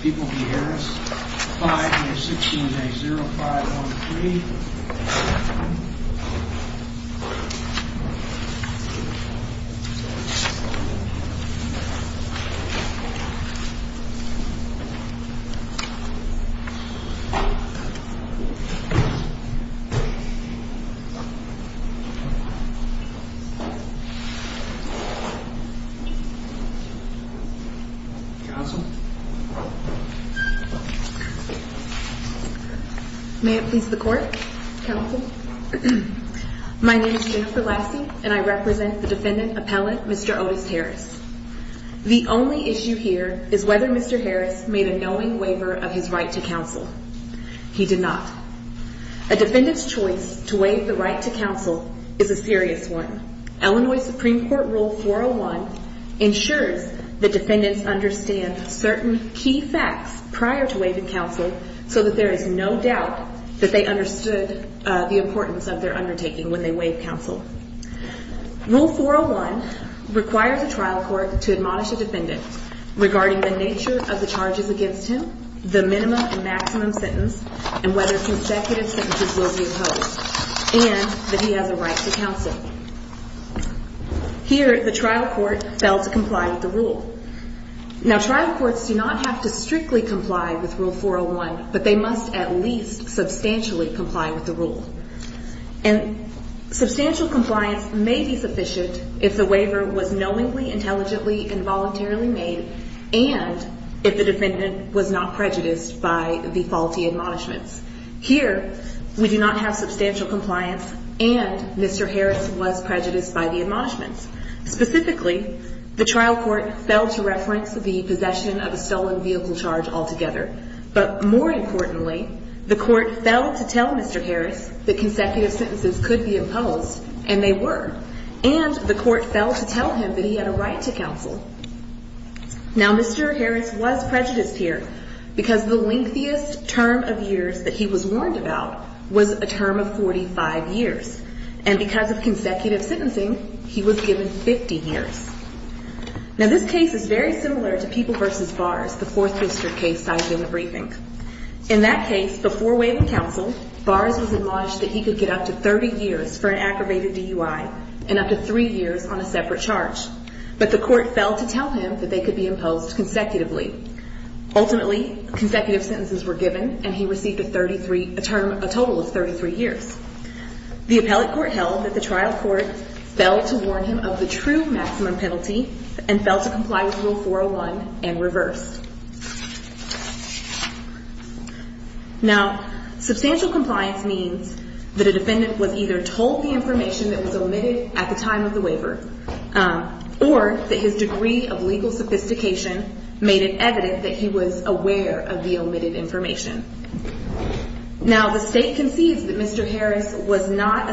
People v. Harris, 5A, 16A, 0, 5, 1, 3. 7. 6. 7. 6. 6. 6. 6. 6. 6. 0. 7. 7. 7. 7. Counsel, My name is Jennifer Lassie and I represent the defendant, Appellant Mr. Otis Harris. The only issue here is whether Mr. Harris made a knowing waiver of his right to counsel. He did not. A defendant's choice to waive the right to counsel is a serious one. Illinois Supreme Court Rule 401 ensures that defendants understand certain key facts prior to waiving counsel so that there is no doubt that they understood the importance of their undertaking when they waive counsel. Rule 401 requires a trial court to admonish a defendant regarding the nature of the charges against him, the minimum and maximum sentence, and whether consecutive sentences will be imposed, and that he has a right to counsel. Here the trial court failed to comply with the rule. Now, trial courts do not have to strictly comply with Rule 401, but they must at least substantially comply with the rule. Substantial compliance may be sufficient if the waiver was knowingly, intelligently, and voluntarily made, and if the defendant was not prejudiced by the faulty admonishments. Here, we do not have substantial compliance and Mr. Harris was prejudiced by the faulty admonishments. Now, Mr. Harris was prejudiced here because the lengthiest term of years that he was warned about was a term of 45 years, and because of consecutive sentencing, he was given 50 This case is very similar to People v. Bars, the Fourth District case cited in the briefing. In that case, before waiving counsel, Bars was admonished that he could get up to 30 years for an aggravated DUI and up to three years on a separate charge, but the court failed to tell him that they could be imposed consecutively. Ultimately, consecutive sentences were given, and he received a total of 33 years. The appellate court held that the trial court failed to warn him of the true maximum penalty and failed to comply with Rule 401 and reversed. Now, substantial compliance means that a defendant was either told the information that was omitted at the time of the waiver, or that his degree of legal sophistication made it evident that he was aware of the omitted information. Now, the State concedes that Mr. Harris was not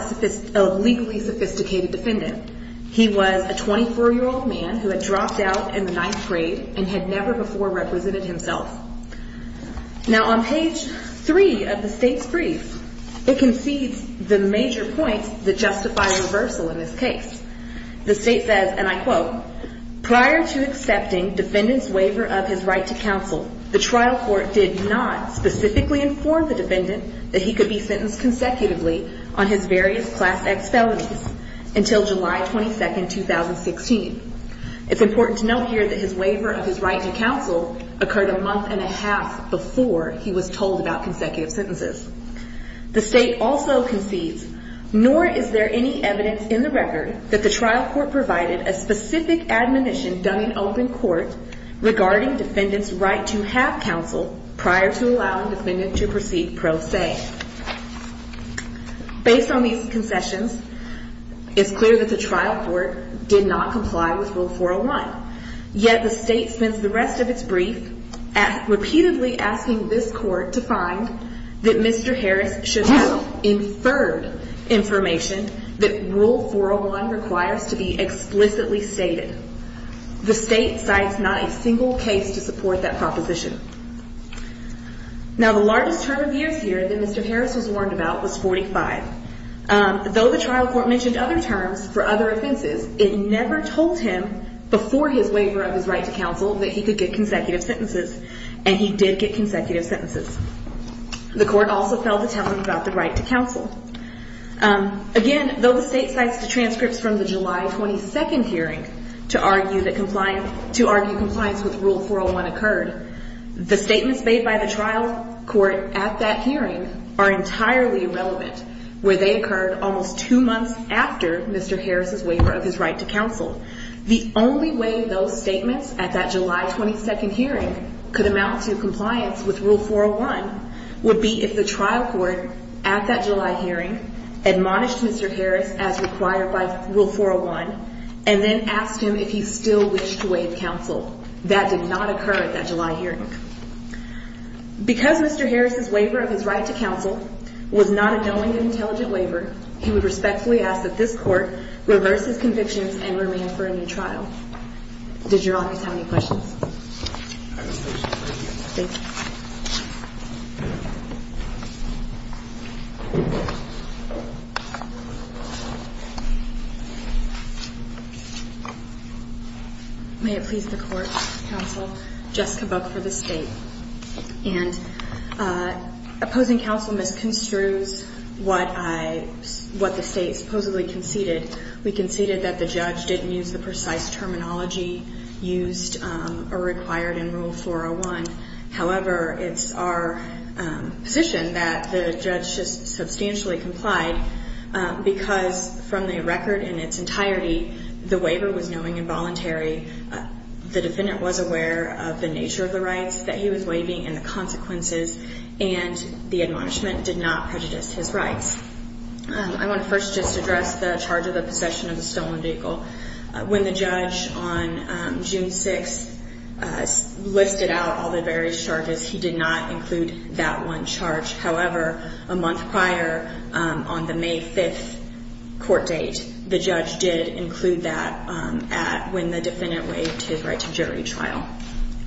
a legally sophisticated defendant. He was a 24-year-old man who had dropped out in the ninth grade and had never before represented himself. Now, on page 3 of the State's brief, it concedes the major points that justify reversal in this case. The State says, and I quote, Prior to accepting defendant's waiver of his right to counsel, the trial court did not specifically inform the defendant that he could be sentenced consecutively on his various Class X felonies until July 22, 2016. It's important to note here that his waiver of his right to counsel occurred a month and a half before he was told about consecutive sentences. The State also concedes, nor is there any evidence in the record that the trial court provided a specific admonition done in open court regarding defendant's right to have counsel prior to allowing defendant to proceed pro se. Based on these concessions, it's clear that the trial court did not comply with Rule 401. Yet, the State spends the rest of its brief repeatedly asking this court to find that Mr. Harris should have inferred information that Rule 401 requires to be explicitly stated. The State cites not a single case to support that proposition. Now, the largest term of years here that Mr. Harris was warned about was 45. Though the trial court mentioned other terms for other offenses, it never told him before his waiver of his right to counsel that he could get consecutive sentences, and he did get consecutive sentences. The court also failed to tell him about the right to counsel. Again, though the State cites the transcripts from the July 22 hearing to argue compliance with Rule 401 occurred, the statements made by the trial court at that hearing are entirely irrelevant, where they occurred almost two months after Mr. Harris' waiver of his right to counsel. The only way those statements at that July 22 hearing could amount to compliance with Rule 401 would be if the trial court at that July hearing admonished Mr. Harris as required by Rule 401 and then asked him if he still wished to waive counsel. That did not occur at that July hearing. Because Mr. Harris' waiver of his right to counsel was not a knowing and intelligent waiver, he would respectfully ask that this court reverse his convictions and remain for a new trial. Does your office have any questions? May it please the Court, counsel. Jessica Buck for the State. And opposing counsel misconstrues what I – what the State supposedly conceded. We conceded that the judge didn't use the precise terminology used by the State in the waiver. However, it's our position that the judge just substantially complied because from the record in its entirety, the waiver was knowing and voluntary. The defendant was aware of the nature of the rights that he was waiving and the consequences and the admonishment did not prejudice his rights. I want to first just address the charge of the possession of a stolen vehicle. When the judge on June 6th listed out all the various charges, he did not include that one charge. However, a month prior on the May 5th court date, the judge did include that when the defendant waived his right to jury trial.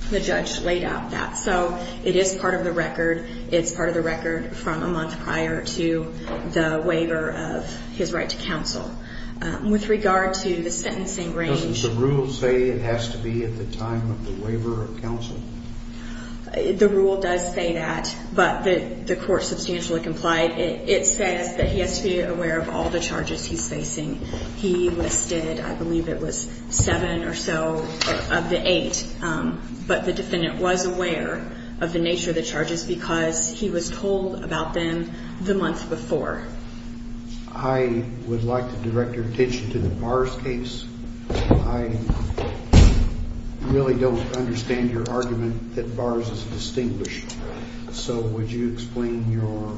The judge laid out that. So it is part of the record. It's part of the record from a month prior to the waiver of his right to counsel. With regard to the sentencing range... Doesn't the rule say it has to be at the time of the waiver of counsel? The rule does say that, but the court substantially complied. It says that he has to be aware of all the charges he's facing. He listed, I believe it was, seven or so of the eight, but the defendant was aware of the nature of the charges because he was told about them the month before. I would like to direct your attention to the Bars case. I really don't understand your argument that Bars is distinguished. So would you explain your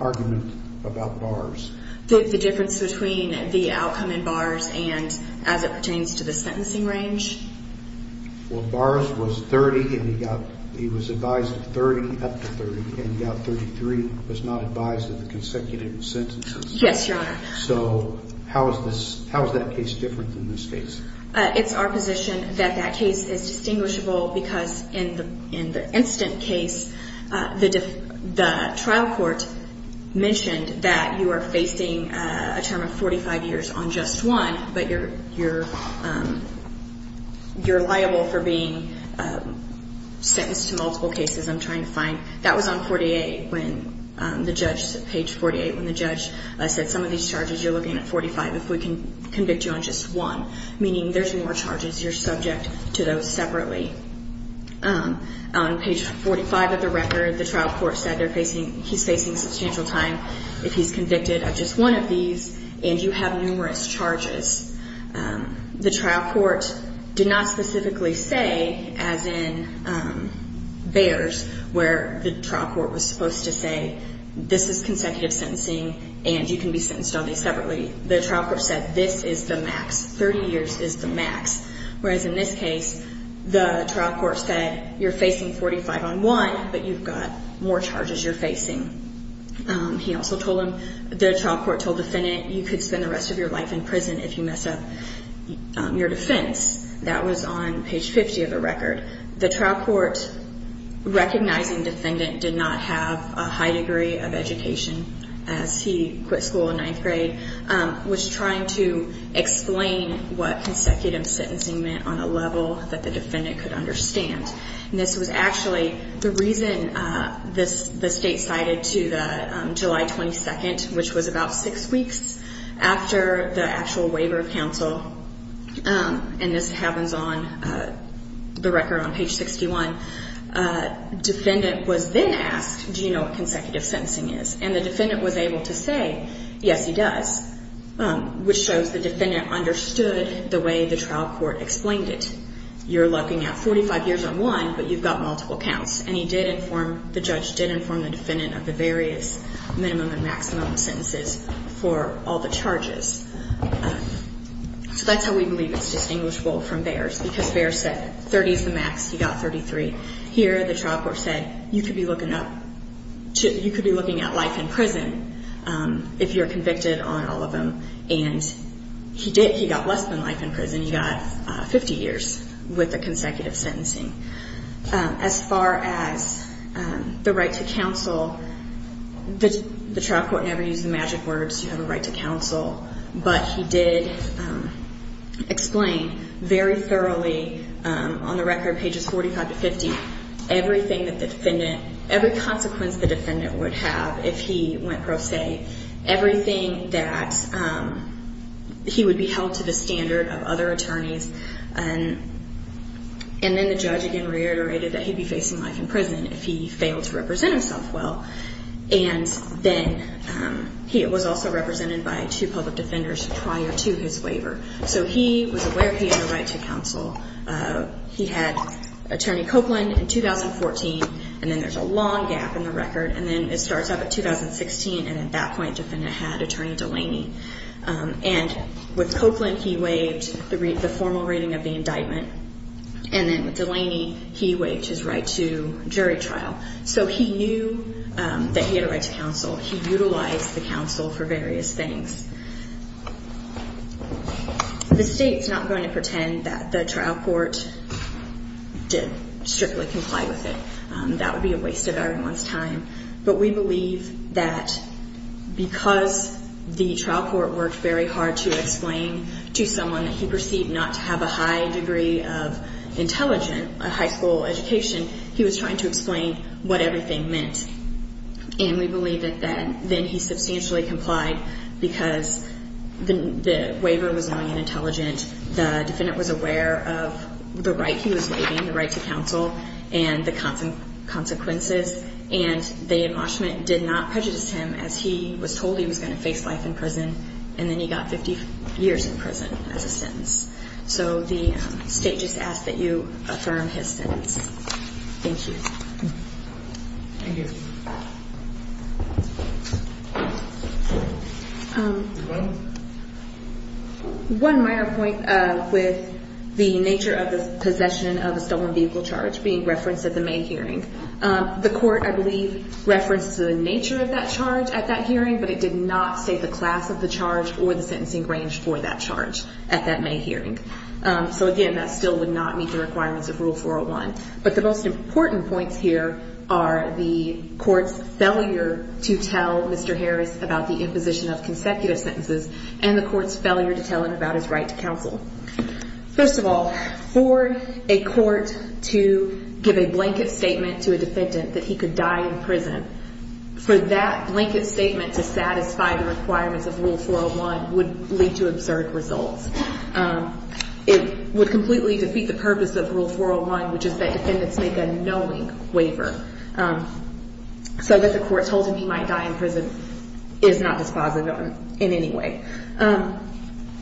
argument about Bars? The difference between the outcome in Bars and as it pertains to the sentencing range? Well, Bars was 30 and he got... Yes, Your Honor. So how is that case different than this case? It's our position that that case is distinguishable because in the instant case, the trial court mentioned that you are facing a term of 45 years on just one, but you're liable for being sentenced to multiple cases. I'm trying to find... That was on page 48 when the judge said, some of these charges you're looking at 45 if we can convict you on just one, meaning there's more charges, you're subject to those separately. On page 45 of the record, the trial court said he's facing substantial time if he's convicted of just one of these and you have numerous charges. The trial court did not specifically say, as in Bars, where the trial court was supposed to say, this is consecutive sentencing and you can be sentenced on these separately. The trial court said this is the max, 30 years is the max. Whereas in this case, the trial court said you're facing 45 on one, but you've got more charges you're facing. He also told him, the trial court told the defendant, you could spend the rest of your life in prison if you mess up your defense. That was on page 50 of the record. The trial court, recognizing the defendant did not have a high degree of education as he quit school in ninth grade, was trying to explain what consecutive sentencing meant on a level that the defendant could understand. This was actually the reason the state cited to the July 22nd, which was about six weeks after the actual waiver of counsel. And this happens on the record on page 61. Defendant was then asked, do you know what consecutive sentencing is? And the defendant was able to say, yes he does, which shows the defendant understood the way the trial court explained it. You're looking at 45 years on one, but you've got multiple counts. And he did inform, the judge did inform the defendant of the various minimum and maximum sentences for all the charges. So that's how we believe it's distinguishable from Baer's, because Baer said 30 is the max, he got 33. Here the trial court said you could be looking at life in prison if you're convicted on all of them. And he did, he got less than life in prison. He got 50 years with the consecutive sentencing. As far as the right to counsel, the trial court never used the magic words, you have a right to counsel. But he did explain very thoroughly on the record, pages 45 to 50, everything that the defendant, every consequence the defendant would have if he went pro se, everything that he would be held to the standard of other attorneys. And then the judge again reiterated that he'd be facing life in prison if he failed to represent himself well. And then he was also represented by two public defenders prior to his waiver. So he was aware he had a right to counsel. He had Attorney Copeland in 2014, and then there's a long gap in the record, and then it starts up at 2016, and at that point the defendant had Attorney Delaney. And with Copeland, he waived the formal rating of the indictment. And then with Delaney, he waived his right to jury trial. So he knew that he had a right to counsel. He utilized the counsel for various things. The state's not going to pretend that the trial court did strictly comply with it. That would be a waste of everyone's time. But we believe that because the trial court worked very hard to explain to someone that he perceived not to have a high degree of intelligence, a high school education, he was trying to explain what everything meant. And we believe that then he substantially complied because the waiver was knowing and intelligent, the defendant was aware of the right he was waiving, the right to counsel, and the consequences. And the admonishment did not prejudice him as he was told he was going to face life in prison, and then he got 50 years in prison as a sentence. So the state just asks that you affirm his sentence. Thank you. Thank you. One minor point with the nature of the possession of a stolen vehicle charge being referenced at the May hearing. The court, I believe, referenced the nature of that charge at that hearing, but it did not state the class of the charge or the sentencing range for that charge at that May hearing. So, again, that still would not meet the requirements of Rule 401. But the most important points here are the court's failure to tell Mr. Harris about the imposition of consecutive sentences and the court's failure to tell him about his right to counsel. First of all, for a court to give a blanket statement to a defendant that he could die in prison, for that blanket statement to satisfy the requirements of Rule 401 would lead to absurd results. It would completely defeat the purpose of Rule 401, which is that defendants make a knowing waiver. So that the court told him he might die in prison is not dispositive in any way.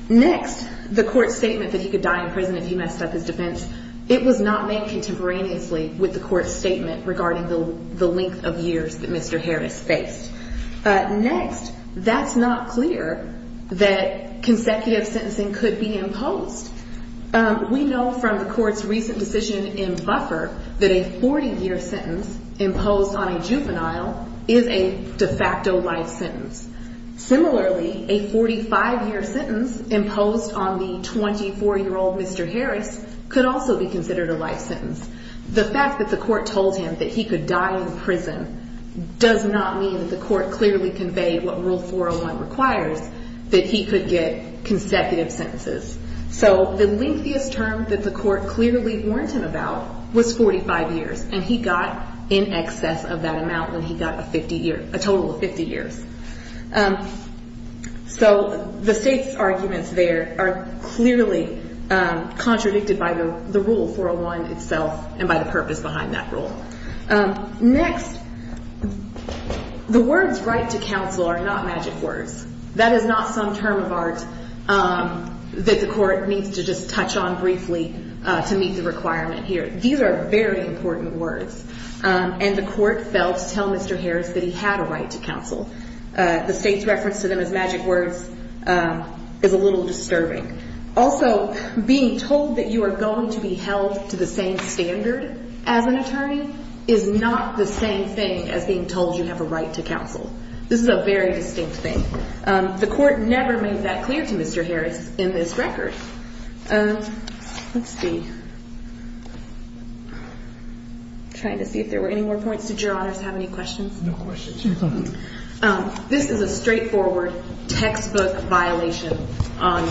Next, the court's statement that he could die in prison if he messed up his defense, it was not made contemporaneously with the court's statement regarding the length of years that Mr. Harris faced. Next, that's not clear that consecutive sentencing could be imposed. We know from the court's recent decision in Buffer that a 40-year sentence imposed on a juvenile is a de facto life sentence. Similarly, a 45-year sentence imposed on the 24-year-old Mr. Harris could also be considered a life sentence. The fact that the court told him that he could die in prison does not mean that the court clearly conveyed what Rule 401 requires, that he could get consecutive sentences. So the lengthiest term that the court clearly warned him about was 45 years, and he got in excess of that amount when he got a total of 50 years. So the state's arguments there are clearly contradicted by the Rule 401 itself and by the purpose behind that rule. Next, the words right to counsel are not magic words. That is not some term of art that the court needs to just touch on briefly to meet the requirement here. These are very important words, and the court failed to tell Mr. Harris that he had a right to counsel. The state's reference to them as magic words is a little disturbing. Also, being told that you are going to be held to the same standard as an attorney is not the same thing as being told you have a right to counsel. This is a very distinct thing. The court never made that clear to Mr. Harris in this record. Let's see. I'm trying to see if there were any more points. Did Your Honors have any questions? No questions. This is a straightforward textbook violation on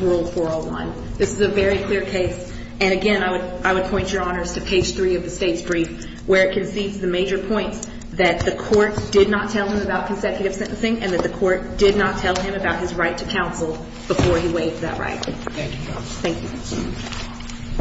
Rule 401. This is a very clear case, and again, I would point Your Honors to page 3 of the state's brief where it concedes the major points that the court did not tell him about consecutive sentencing and that the court did not tell him about his right to counsel before he waived that right. Thank you, Your Honors. Thank you.